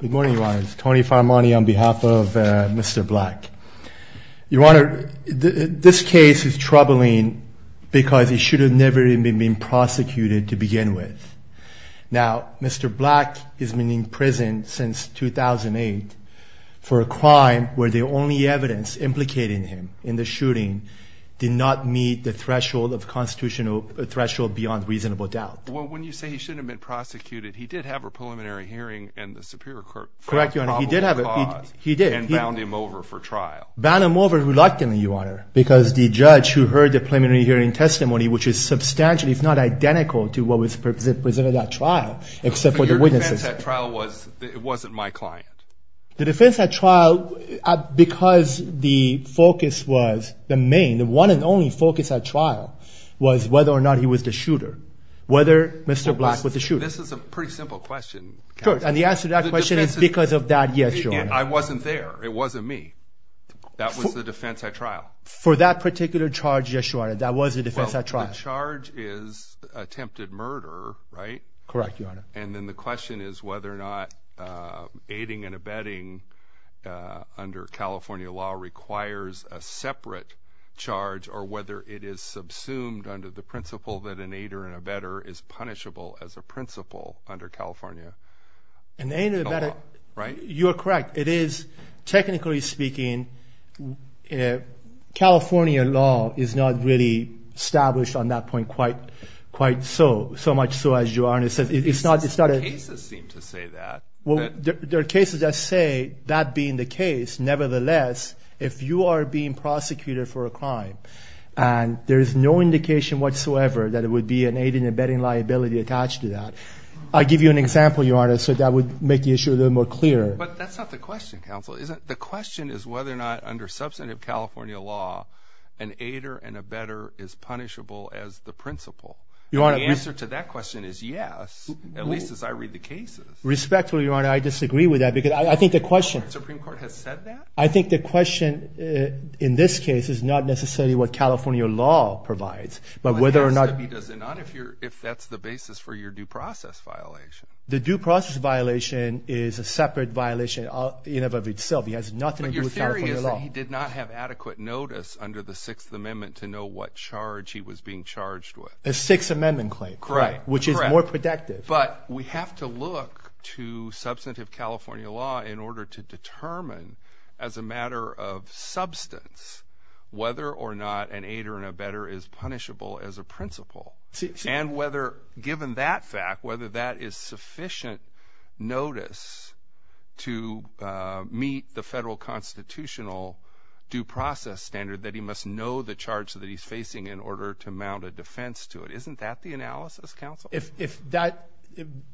Good morning, Your Honors. Tony Farmani on behalf of Mr. Black. Your Honor, this case is troubling because he should have never even been prosecuted to begin with. Now, Mr. Black has been in prison since 2008 for a crime where the only evidence implicating him in the shooting did not meet the threshold of constitutional – the threshold beyond reasonable doubt. Well, when you say he shouldn't have been prosecuted, he did have a preliminary hearing in the Superior Court. Correct, Your Honor. He did have a – he did. And bound him over for trial. Bound him over reluctantly, Your Honor, because the judge who heard the preliminary hearing testimony, which is substantially, if not identical, to what was presented at trial, except for the witnesses. Your defense at trial was it wasn't my client. The defense at trial, because the focus was the main – the one and only focus at trial was whether or not he was the shooter. Whether Mr. Black was the shooter. This is a pretty simple question. And the answer to that question is because of that yes, Your Honor. I wasn't there. It wasn't me. That was the defense at trial. For that particular charge, yes, Your Honor, that was the defense at trial. Well, the charge is attempted murder, right? Correct, Your Honor. And then the question is whether or not aiding and abetting under California law requires a separate charge or whether it is subsumed under the principle that an aider and abetter is punishable as a principle under California law, right? You're correct. It is – technically speaking, California law is not really established on that point quite so, so much so as you are. And it's not – it's not a – The cases seem to say that. Well, there are cases that say that being the case, nevertheless, if you are being prosecuted for a crime and there is no indication whatsoever that it would be an aiding and abetting liability attached to that. I'll give you an example, Your Honor, so that would make the issue a little more clear. But that's not the question, counsel. The question is whether or not under substantive California law an aider and abetter is punishable as the principle. And the answer to that question is yes, at least as I read the cases. Respectfully, Your Honor, I disagree with that because I think the question – The Supreme Court has said that? I think the question in this case is not necessarily what California law provides, but whether or not – Well, it has to be, does it not, if you're – if that's the basis for your due process violation. The due process violation is a separate violation in and of itself. It has nothing to do with California law. But your theory is that he did not have adequate notice under the Sixth Amendment to know what charge he was being charged with. A Sixth Amendment claim. Correct. Which is more productive. But we have to look to substantive California law in order to determine as a matter of substance whether or not an aider and abetter is punishable as a principle. And whether, given that fact, whether that is sufficient notice to meet the federal constitutional due process standard that he must know the charge that he's facing in order to mount a defense to it. If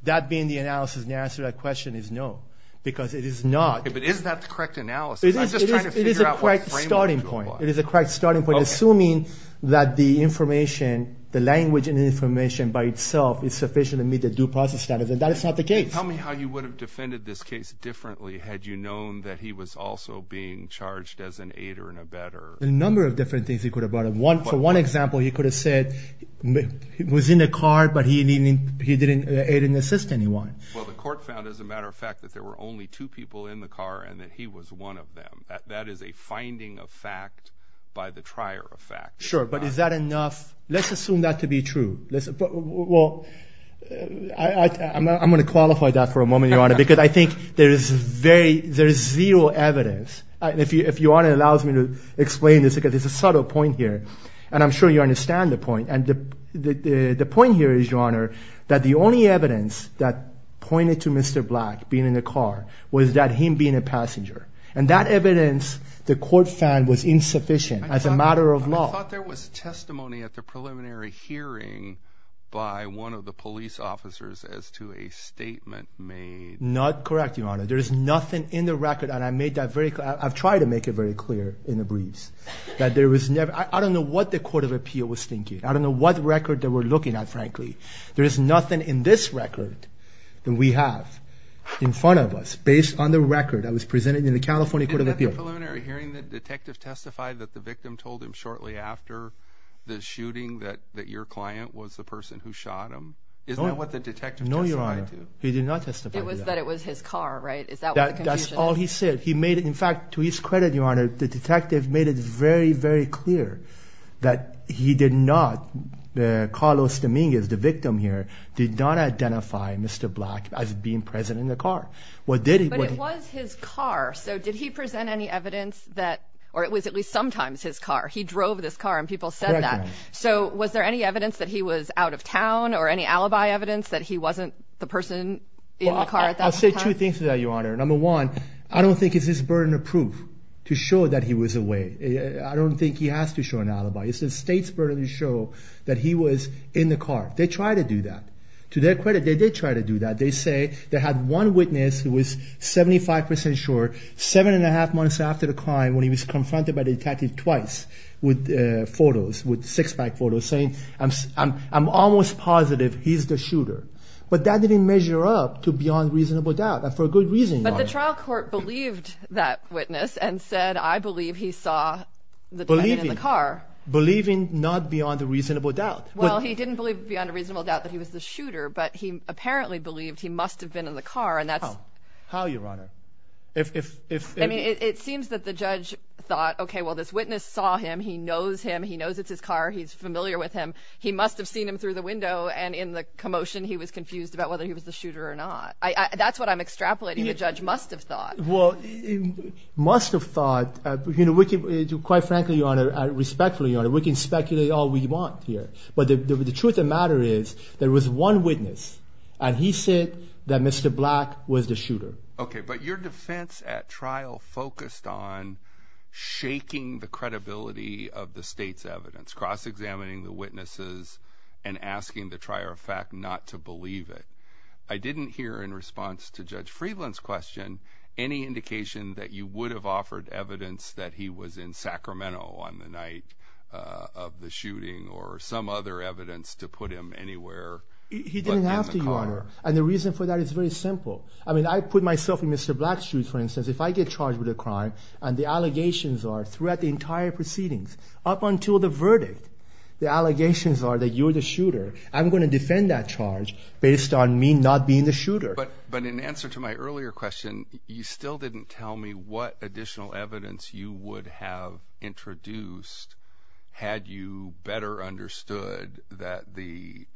that being the analysis and the answer to that question is no, because it is not – But is that the correct analysis? I'm just trying to figure out what framework to apply. It is a correct starting point. It is a correct starting point, assuming that the information, the language and information by itself is sufficient to meet the due process standards. And that is not the case. Tell me how you would have defended this case differently had you known that he was also being charged as an aider and abetter. A number of different things you could have brought up. For one example, you could have said he was in the car, but he didn't aid and assist anyone. Well, the court found, as a matter of fact, that there were only two people in the car and that he was one of them. That is a finding of fact by the trier of fact. Sure, but is that enough? Let's assume that to be true. Well, I'm going to qualify that for a moment, Your Honor, because I think there is very – there is zero evidence. If Your Honor allows me to explain this, because there is a subtle point here, and I'm sure you understand the point. And the point here is, Your Honor, that the only evidence that pointed to Mr. Black being in the car was that him being a passenger. And that evidence, the court found, was insufficient as a matter of law. I thought there was testimony at the preliminary hearing by one of the police officers as to a statement made. Not correct, Your Honor. There is nothing in the record, and I've tried to make it very clear in a breeze, that there was never – I don't know what the court of appeal was thinking. I don't know what record they were looking at, frankly. There is nothing in this record that we have in front of us based on the record that was presented in the California court of appeal. And at the preliminary hearing, the detective testified that the victim told him shortly after the shooting that your client was the person who shot him. Isn't that what the detective testified to? No, Your Honor. He did not testify to that. It was that it was his car, right? Is that what the confusion is? That's all he said. In fact, to his credit, Your Honor, the detective made it very, very clear that he did not – Carlos Dominguez, the victim here, did not identify Mr. Black as being present in the car. But it was his car. So did he present any evidence that – or it was at least sometimes his car. He drove this car, and people said that. So was there any evidence that he was out of town or any alibi evidence that he wasn't the person in the car at that point in time? I'll say two things to that, Your Honor. Number one, I don't think it's his burden of proof to show that he was away. I don't think he has to show an alibi. It's the state's burden to show that he was in the car. They tried to do that. To their credit, they did try to do that. They say they had one witness who was 75 percent sure, seven and a half months after the crime, when he was confronted by the detective twice with photos, with six-pack photos, saying, I'm almost positive he's the shooter. But that didn't measure up to beyond reasonable doubt, and for good reason, Your Honor. But the trial court believed that witness and said, I believe he saw the driver in the car. Believing. Believing not beyond a reasonable doubt. Well, he didn't believe beyond a reasonable doubt that he was the shooter, but he apparently believed he must have been in the car. How, Your Honor? I mean, it seems that the judge thought, okay, well, this witness saw him. He knows him. He knows it's his car. He's familiar with him. He must have seen him through the window, and in the commotion, he was confused about whether he was the shooter or not. That's what I'm extrapolating. The judge must have thought. Well, must have thought. You know, quite frankly, Your Honor, respectfully, Your Honor, we can speculate all we want here. But the truth of the matter is there was one witness, and he said that Mr. Black was the shooter. Okay. But your defense at trial focused on shaking the credibility of the state's evidence, cross-examining the witnesses, and asking the trier of fact not to believe it. I didn't hear in response to Judge Friedland's question any indication that you would have offered evidence that he was in Sacramento on the night of the shooting or some other evidence to put him anywhere but in the car. He didn't have to, Your Honor. And the reason for that is very simple. I mean, I put myself in Mr. Black's shoes, for instance. If I get charged with a crime and the allegations are throughout the entire proceedings up until the verdict, the allegations are that you're the shooter, I'm going to defend that charge based on me not being the shooter. But in answer to my earlier question, you still didn't tell me what additional evidence you would have introduced had you better understood that the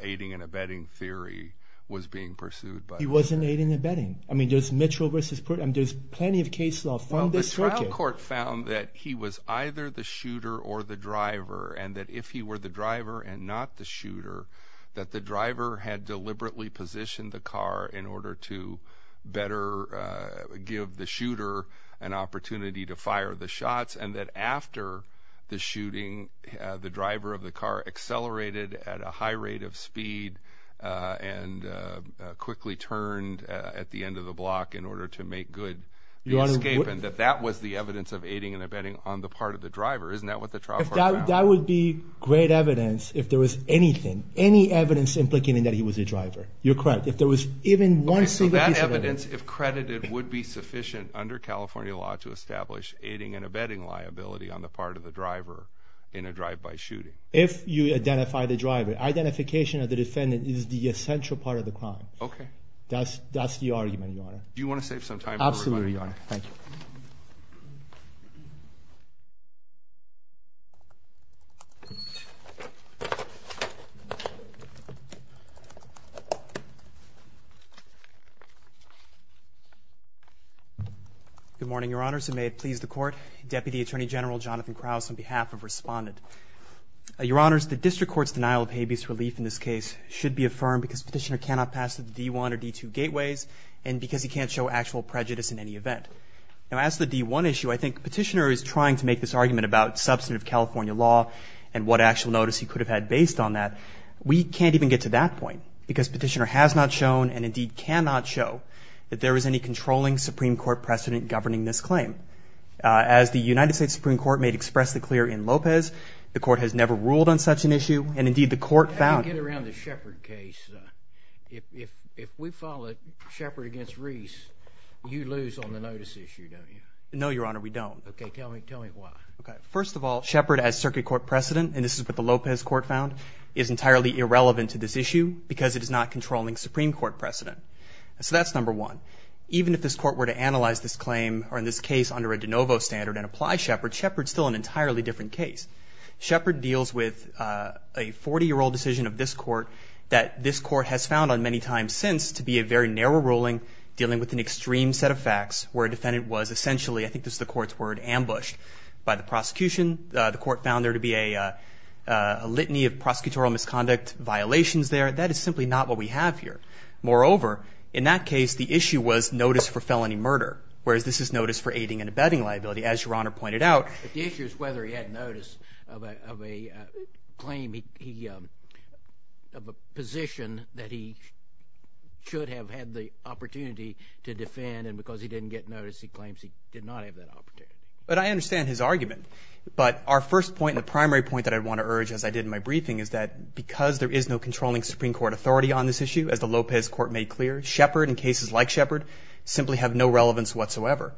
aiding and abetting theory was being pursued by Mr. Black. He wasn't aiding and abetting. I mean, there's Mitchell v. Pruitt. I mean, there's plenty of case law from this circuit. Well, the trial court found that he was either the shooter or the driver, and that if he were the driver and not the shooter, that the driver had deliberately positioned the car in order to better give the shooter an opportunity to fire the shots, and that after the shooting, the driver of the car accelerated at a high rate of speed and quickly turned at the end of the block in order to make good escape, and that that was the evidence of aiding and abetting on the part of the driver. Isn't that what the trial court found? That would be great evidence if there was anything, any evidence implicating that he was a driver. You're correct. If there was even one single piece of evidence. Okay, so that evidence, if credited, would be sufficient under California law to establish aiding and abetting liability on the part of the driver in a drive-by shooting. If you identify the driver. Identification of the defendant is the essential part of the crime. Okay. That's the argument, Your Honor. Do you want to save some time for everybody? Absolutely, Your Honor. Thank you. Good morning, Your Honors, and may it please the Court. Deputy Attorney General Jonathan Krause on behalf of Respondent. Your Honors, the District Court's denial of habeas relief in this case should be affirmed because Petitioner cannot pass the D-1 or D-2 gateways, and because he can't show actual prejudice in any event. Now, as to the D-1 issue, I think Petitioner is trying to make this argument about substantive California law and what actual notice he could have had based on that. We can't even get to that point because Petitioner has not shown and indeed cannot show that there is any controlling Supreme Court precedent governing this claim. As the United States Supreme Court made expressly clear in Lopez, the Court has never ruled on such an issue, and indeed the Court found How do you get around the Shepard case? If we file a Shepard against Reese, you lose on the notice issue, don't you? No, Your Honor. We don't. Okay, tell me why. First of all, Shepard as Circuit Court precedent, and this is what the Lopez Court found, is entirely irrelevant to this issue because it is not controlling Supreme Court precedent. So that's number one. Even if this Court were to analyze this claim or in this case under a de novo standard and apply Shepard, Shepard is still an entirely different case. Shepard deals with a 40-year-old decision of this Court that this Court has found on many times since to be a very narrow ruling dealing with an extreme set of facts where a defendant was essentially, I think this is the Court's word, ambushed by the prosecution. The Court found there to be a litany of prosecutorial misconduct violations there. That is simply not what we have here. Moreover, in that case, the issue was notice for felony murder, whereas this is notice for aiding and abetting liability. As Your Honor pointed out, The issue is whether he had notice of a claim, of a position that he should have had the opportunity to defend, and because he didn't get notice, he claims he did not have that opportunity. But I understand his argument. But our first point and the primary point that I want to urge, as I did in my briefing, is that because there is no controlling Supreme Court authority on this issue, as the Lopez Court made clear, Shepard and cases like Shepard simply have no relevance whatsoever.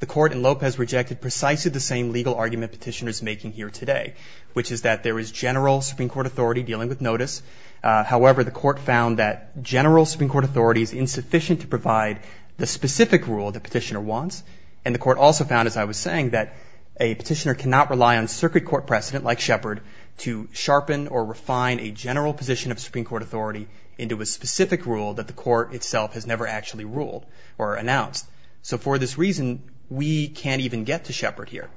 The Court in Lopez rejected precisely the same legal argument petitioners are making here today, which is that there is general Supreme Court authority dealing with notice. However, the Court found that general Supreme Court authority is insufficient to provide the specific rule the petitioner wants, and the Court also found, as I was saying, that a petitioner cannot rely on circuit court precedent like Shepard to sharpen or refine a general position of Supreme Court authority into a specific rule that the Court itself has never actually ruled or announced. So for this reason, we can't even get to Shepard here,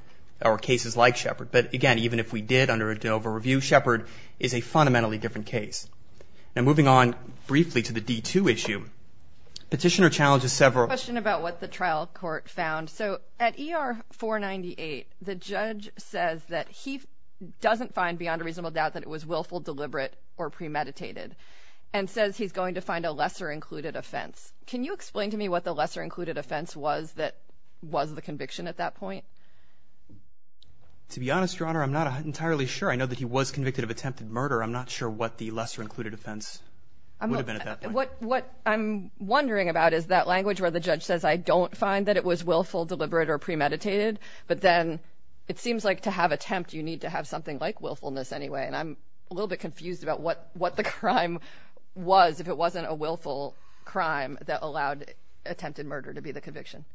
or cases like Shepard. But again, even if we did under a Dover review, Shepard is a fundamentally different case. And moving on briefly to the D2 issue, petitioner challenges several. A question about what the trial court found. So at ER 498, the judge says that he doesn't find beyond a reasonable doubt that it was willful, deliberate, or premeditated, and says he's going to find a lesser included offense. Can you explain to me what the lesser included offense was that was the conviction at that point? To be honest, Your Honor, I'm not entirely sure. I know that he was convicted of attempted murder. I'm not sure what the lesser included offense would have been at that point. What I'm wondering about is that language where the judge says, I don't find that it was willful, deliberate, or premeditated, but then it seems like to have attempt, you need to have something like willfulness anyway. And I'm a little bit confused about what the crime was if it wasn't a willful crime that allowed attempted murder to be the conviction.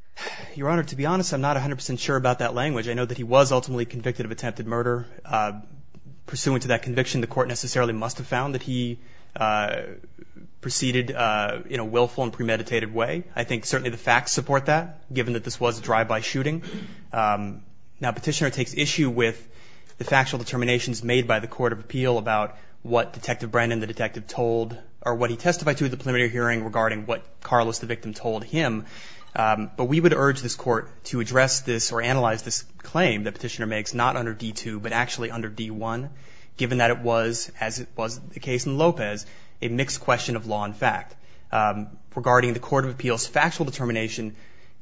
Your Honor, to be honest, I'm not 100 percent sure about that language. I know that he was ultimately convicted of attempted murder. Pursuant to that conviction, the court necessarily must have found that he proceeded in a willful and premeditated way. I think certainly the facts support that, given that this was a drive-by shooting. Now, petitioner takes issue with the factual determinations made by the court of appeal about what Detective Brandon, the detective, told, or what he testified to at the preliminary hearing regarding what Carlos, the victim, told him. But we would urge this court to address this or analyze this claim that petitioner makes, not under D-2, but actually under D-1, given that it was, as was the case in Lopez, a mixed question of law and fact regarding the court of appeal's factual determination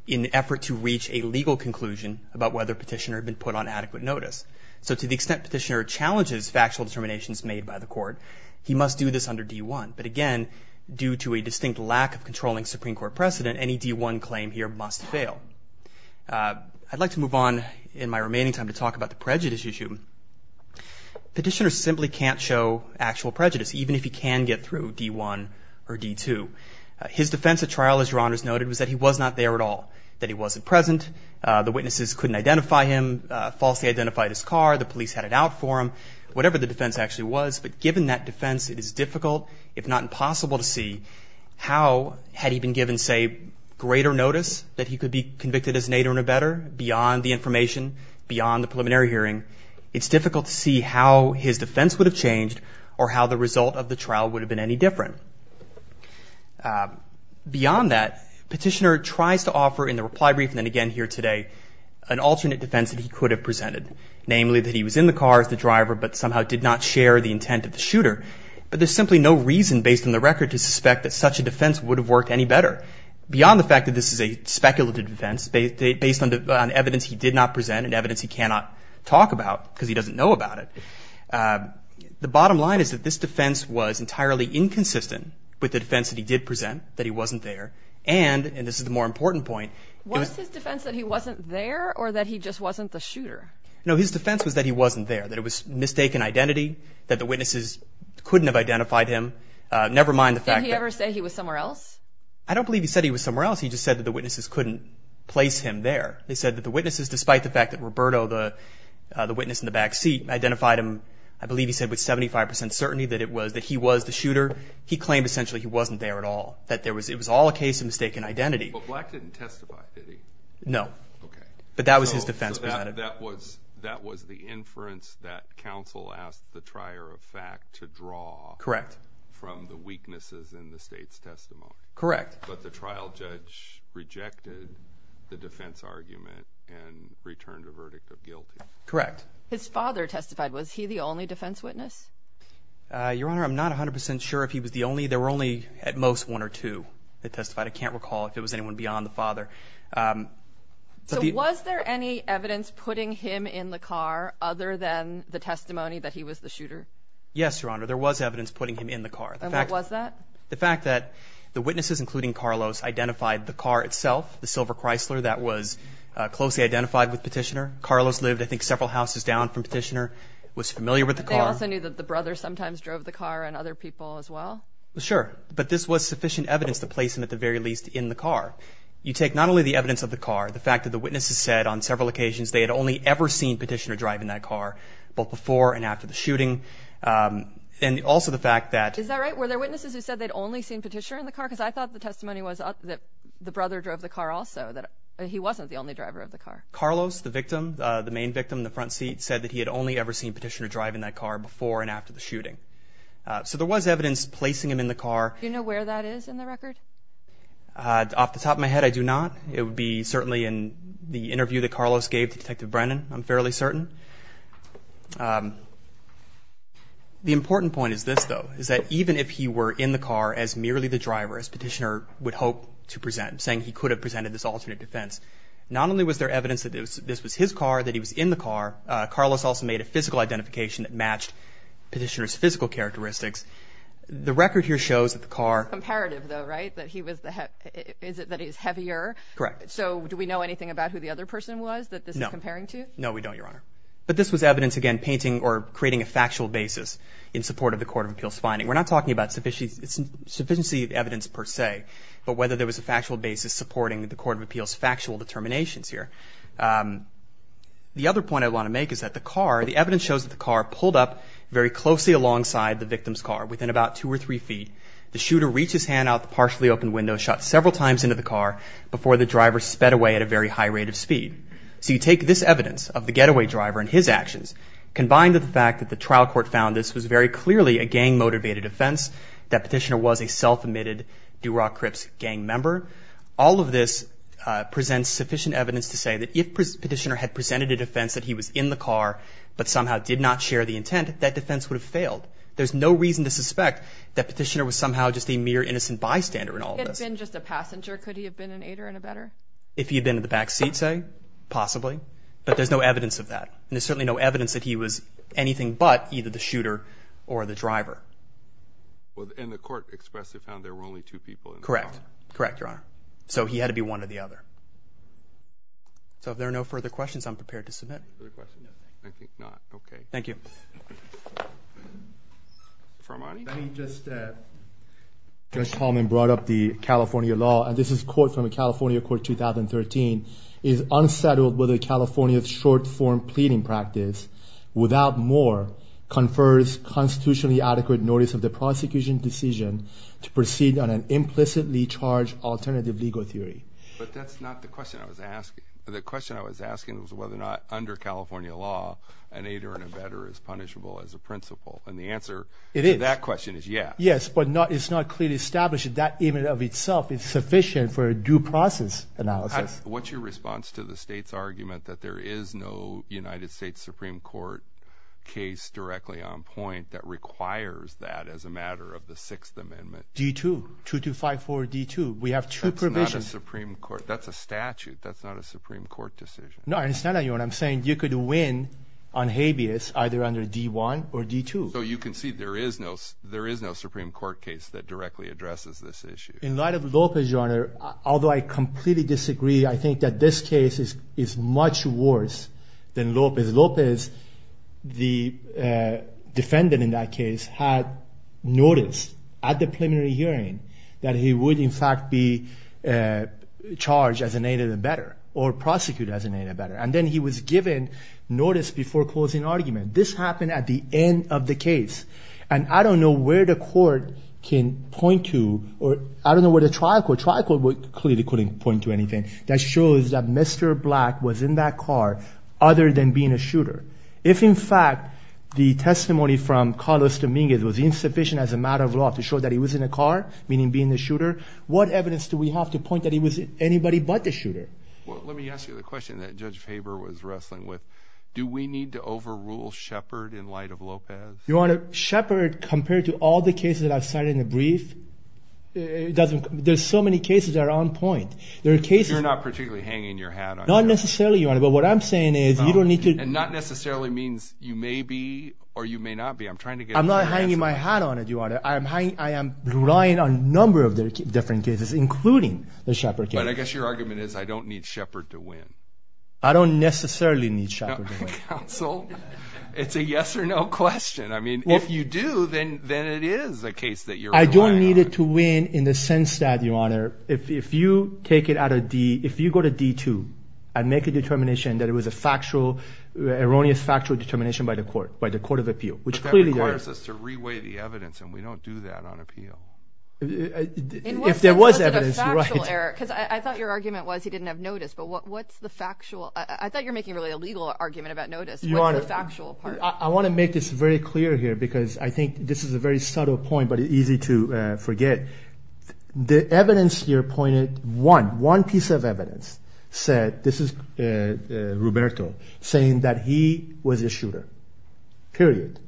in an effort to reach a legal conclusion about whether petitioner had been put on adequate notice. So to the extent petitioner challenges factual determinations made by the court, he must do this under D-1. But again, due to a distinct lack of controlling Supreme Court precedent, any D-1 claim here must fail. I'd like to move on in my remaining time to talk about the prejudice issue. Petitioner simply can't show actual prejudice, even if he can get through D-1 or D-2. His defense at trial, as Your Honors noted, was that he was not there at all, that he wasn't present, the witnesses couldn't identify him, falsely identified his car, the police had it out for him, whatever the defense actually was. But given that defense, it is difficult, if not impossible, to see how, had he been given, say, greater notice that he could be convicted as an aider and abetter, beyond the information, beyond the preliminary hearing, it's difficult to see how his defense would have changed or how the result of the trial would have been any different. Beyond that, petitioner tries to offer, in the reply brief and then again here today, an alternate defense that he could have presented, namely that he was in the car as the driver, but somehow did not share the intent of the shooter. But there's simply no reason, based on the record, to suspect that such a defense would have worked any better. Beyond the fact that this is a speculative defense, based on evidence he did not present and evidence he cannot talk about because he doesn't know about it, the bottom line is that this defense was entirely inconsistent with the defense that he did present, that he wasn't there, and, and this is the more important point. Was his defense that he wasn't there or that he just wasn't the shooter? No, his defense was that he wasn't there, that it was mistaken identity, that the witnesses couldn't have identified him, never mind the fact that. Did he ever say he was somewhere else? I don't believe he said he was somewhere else. He just said that the witnesses couldn't place him there. They said that the witnesses, despite the fact that Roberto, the witness in the back seat, identified him, I believe he said with 75 percent certainty that it was, that he was the shooter. He claimed essentially he wasn't there at all, that there was, it was all a case of mistaken identity. But Black didn't testify, did he? No. Okay. But that was his defense presented. So that was, that was the inference that counsel asked the trier of fact to draw. Correct. From the weaknesses in the state's testimony. Correct. But the trial judge rejected the defense argument and returned a verdict of guilty. Correct. His father testified. Was he the only defense witness? Your Honor, I'm not 100 percent sure if he was the only. There were only at most one or two that testified. I can't recall if it was anyone beyond the father. So was there any evidence putting him in the car other than the testimony that he was the shooter? Yes, Your Honor. There was evidence putting him in the car. And what was that? The fact that the witnesses, including Carlos, identified the car itself, the silver Chrysler, that was closely identified with Petitioner. Carlos lived, I think, several houses down from Petitioner, was familiar with the car. But they also knew that the brother sometimes drove the car and other people as well? Sure. But this was sufficient evidence to place him, at the very least, in the car. You take not only the evidence of the car, the fact that the witnesses said on several occasions they had only ever seen Petitioner drive in that car, both before and after the shooting, and also the fact that— Is that right? Were there witnesses who said they'd only seen Petitioner in the car? Because I thought the testimony was that the brother drove the car also, that he wasn't the only driver of the car. Carlos, the victim, the main victim in the front seat, said that he had only ever seen Petitioner drive in that car before and after the shooting. So there was evidence placing him in the car. Do you know where that is in the record? Off the top of my head, I do not. It would be certainly in the interview that Carlos gave to Detective Brennan, I'm fairly certain. The important point is this, though, is that even if he were in the car as merely the driver, as Petitioner would hope to present, saying he could have presented this alternate defense, not only was there evidence that this was his car, that he was in the car, Carlos also made a physical identification that matched Petitioner's physical characteristics. The record here shows that the car— Is it that he's heavier? Correct. So do we know anything about who the other person was that this is comparing to? No, we don't, Your Honor. But this was evidence, again, painting or creating a factual basis in support of the Court of Appeals' finding. We're not talking about sufficiency of evidence per se, but whether there was a factual basis supporting the Court of Appeals' factual determinations here. The other point I want to make is that the car, the evidence shows that the car pulled up very closely alongside the victim's car, within about two or three feet. The shooter reached his hand out the partially open window, shot several times into the car, before the driver sped away at a very high rate of speed. So you take this evidence of the getaway driver and his actions, combined with the fact that the trial court found this was very clearly a gang-motivated offense, that Petitioner was a self-admitted Durock Cripps gang member, all of this presents sufficient evidence to say that if Petitioner had presented a defense that he was in the car but somehow did not share the intent, that defense would have failed. There's no reason to suspect that Petitioner was somehow just a mere innocent bystander in all of this. If he had been just a passenger, could he have been an aider and a better? If he had been in the back seat, say, possibly, but there's no evidence of that. And there's certainly no evidence that he was anything but either the shooter or the driver. And the court expressly found there were only two people in the car. Correct. Correct, Your Honor. So he had to be one or the other. So if there are no further questions, I'm prepared to submit. Thank you. Mr. Armani? Let me just comment. I brought up the California law, and this is a quote from the California Court 2013. It is unsettled whether California's short-form pleading practice, without more, confers constitutionally adequate notice of the prosecution's decision to proceed on an implicitly charged alternative legal theory. But that's not the question I was asking. The question I was asking was whether or not under California law, an aider and a better is punishable as a principle. And the answer to that question is yes. Yes, but it's not clearly established that even of itself is sufficient for a due process analysis. What's your response to the state's argument that there is no United States Supreme Court case directly on point that requires that as a matter of the Sixth Amendment? D-2, 2254-D-2. We have two provisions. That's not a Supreme Court. That's a statute. That's not a Supreme Court decision. No, I understand what you're saying. You could win on habeas either under D-1 or D-2. So you can see there is no Supreme Court case that directly addresses this issue. In light of Lopez, Your Honor, although I completely disagree, I think that this case is much worse than Lopez. Lopez, the defendant in that case, had noticed at the preliminary hearing that he would in fact be charged as an aider and a better or prosecuted as an aider and a better. And then he was given notice before closing argument. This happened at the end of the case. And I don't know where the court can point to or I don't know where the trial court, trial court clearly couldn't point to anything that shows that Mr. Black was in that car other than being a shooter. If in fact the testimony from Carlos Dominguez was insufficient as a matter of law to show that he was in a car, meaning being a shooter, what evidence do we have to point that he was anybody but the shooter? Well, let me ask you the question that Judge Faber was wrestling with. Do we need to overrule Shepard in light of Lopez? Your Honor, Shepard compared to all the cases that I've cited in the brief, there's so many cases that are on point. There are cases… You're not particularly hanging your hat on Shepard. Not necessarily, Your Honor. But what I'm saying is you don't need to… And not necessarily means you may be or you may not be. I'm trying to get… I'm not hanging my hat on it, Your Honor. I am relying on a number of different cases including the Shepard case. But I guess your argument is I don't need Shepard to win. I don't necessarily need Shepard to win. Counsel, it's a yes or no question. I mean if you do, then it is a case that you're relying on. I don't need it to win in the sense that, Your Honor, if you take it out of D, if you go to D2 and make a determination that it was a factual, erroneous factual determination by the court, by the court of appeal, which clearly there is. But that requires us to reweigh the evidence, and we don't do that on appeal. If there was evidence, you're right. Because I thought your argument was he didn't have notice. But what's the factual? I thought you were making really a legal argument about notice. What's the factual part? I want to make this very clear here because I think this is a very subtle point but easy to forget. The evidence here pointed, one, one piece of evidence said, this is Roberto, saying that he was the shooter. Period.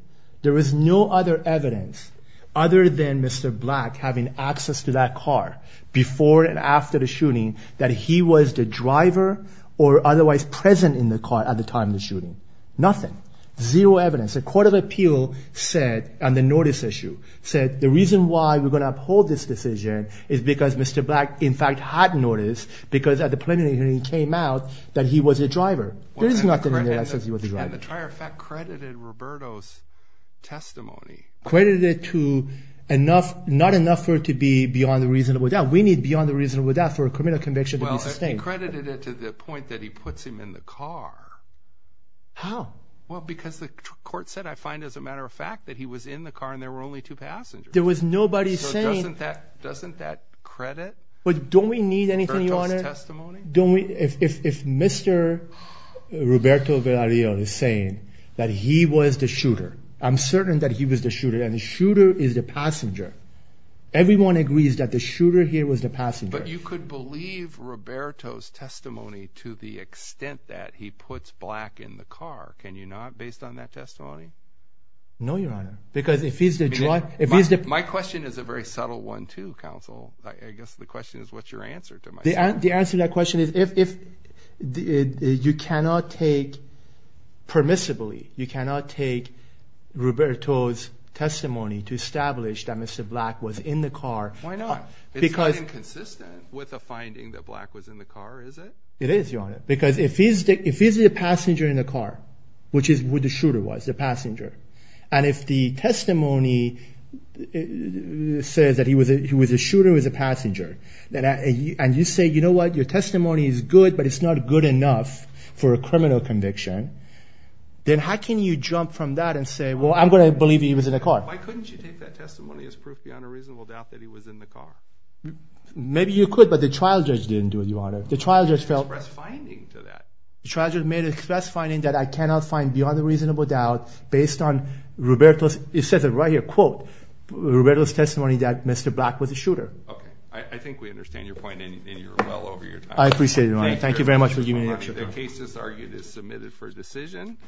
There was no other evidence other than Mr. Black having access to that car before and after the shooting that he was the driver or otherwise present in the car at the time of the shooting. Nothing. Zero evidence. The court of appeal said, on the notice issue, said the reason why we're going to uphold this decision is because Mr. Black, in fact, had notice because at the preliminary hearing he came out that he was the driver. There is nothing in there that says he was the driver. And the trial, in fact, credited Roberto's testimony. Credited it to enough, not enough for it to be beyond the reasonable doubt. We need beyond the reasonable doubt for a criminal conviction to be sustained. Well, it credited it to the point that he puts him in the car. How? Well, because the court said, I find as a matter of fact, that he was in the car and there were only two passengers. There was nobody saying... So doesn't that credit Roberto's testimony? But don't we need anything, Your Honor? If Mr. Roberto Villarreal is saying that he was the shooter, I'm certain that he was the shooter and the shooter is the passenger. Everyone agrees that the shooter here was the passenger. But you could believe Roberto's testimony to the extent that he puts Black in the car. Can you not, based on that testimony? No, Your Honor, because if he's the driver... My question is a very subtle one, too, counsel. I guess the question is what's your answer to my question. The answer to that question is you cannot take, permissibly, you cannot take Roberto's testimony to establish that Mr. Black was in the car. Why not? It's not inconsistent with the finding that Black was in the car, is it? It is, Your Honor. Because if he's the passenger in the car, which is who the shooter was, the passenger, and if the testimony says that he was the shooter, he was the passenger, and you say, you know what, your testimony is good, but it's not good enough for a criminal conviction, then how can you jump from that and say, well, I'm going to believe he was in the car? Why couldn't you take that testimony as proof beyond a reasonable doubt that he was in the car? Maybe you could, but the trial judge didn't do it, Your Honor. The trial judge felt... He made an express finding to that. The trial judge made an express finding that I cannot find beyond a reasonable doubt based on Roberto's, it says it right here, quote, Roberto's testimony that Mr. Black was the shooter. Okay, I think we understand your point, and you're well over your time. I appreciate it, Your Honor. Thank you very much for giving me the opportunity. The case is argued as submitted for decision.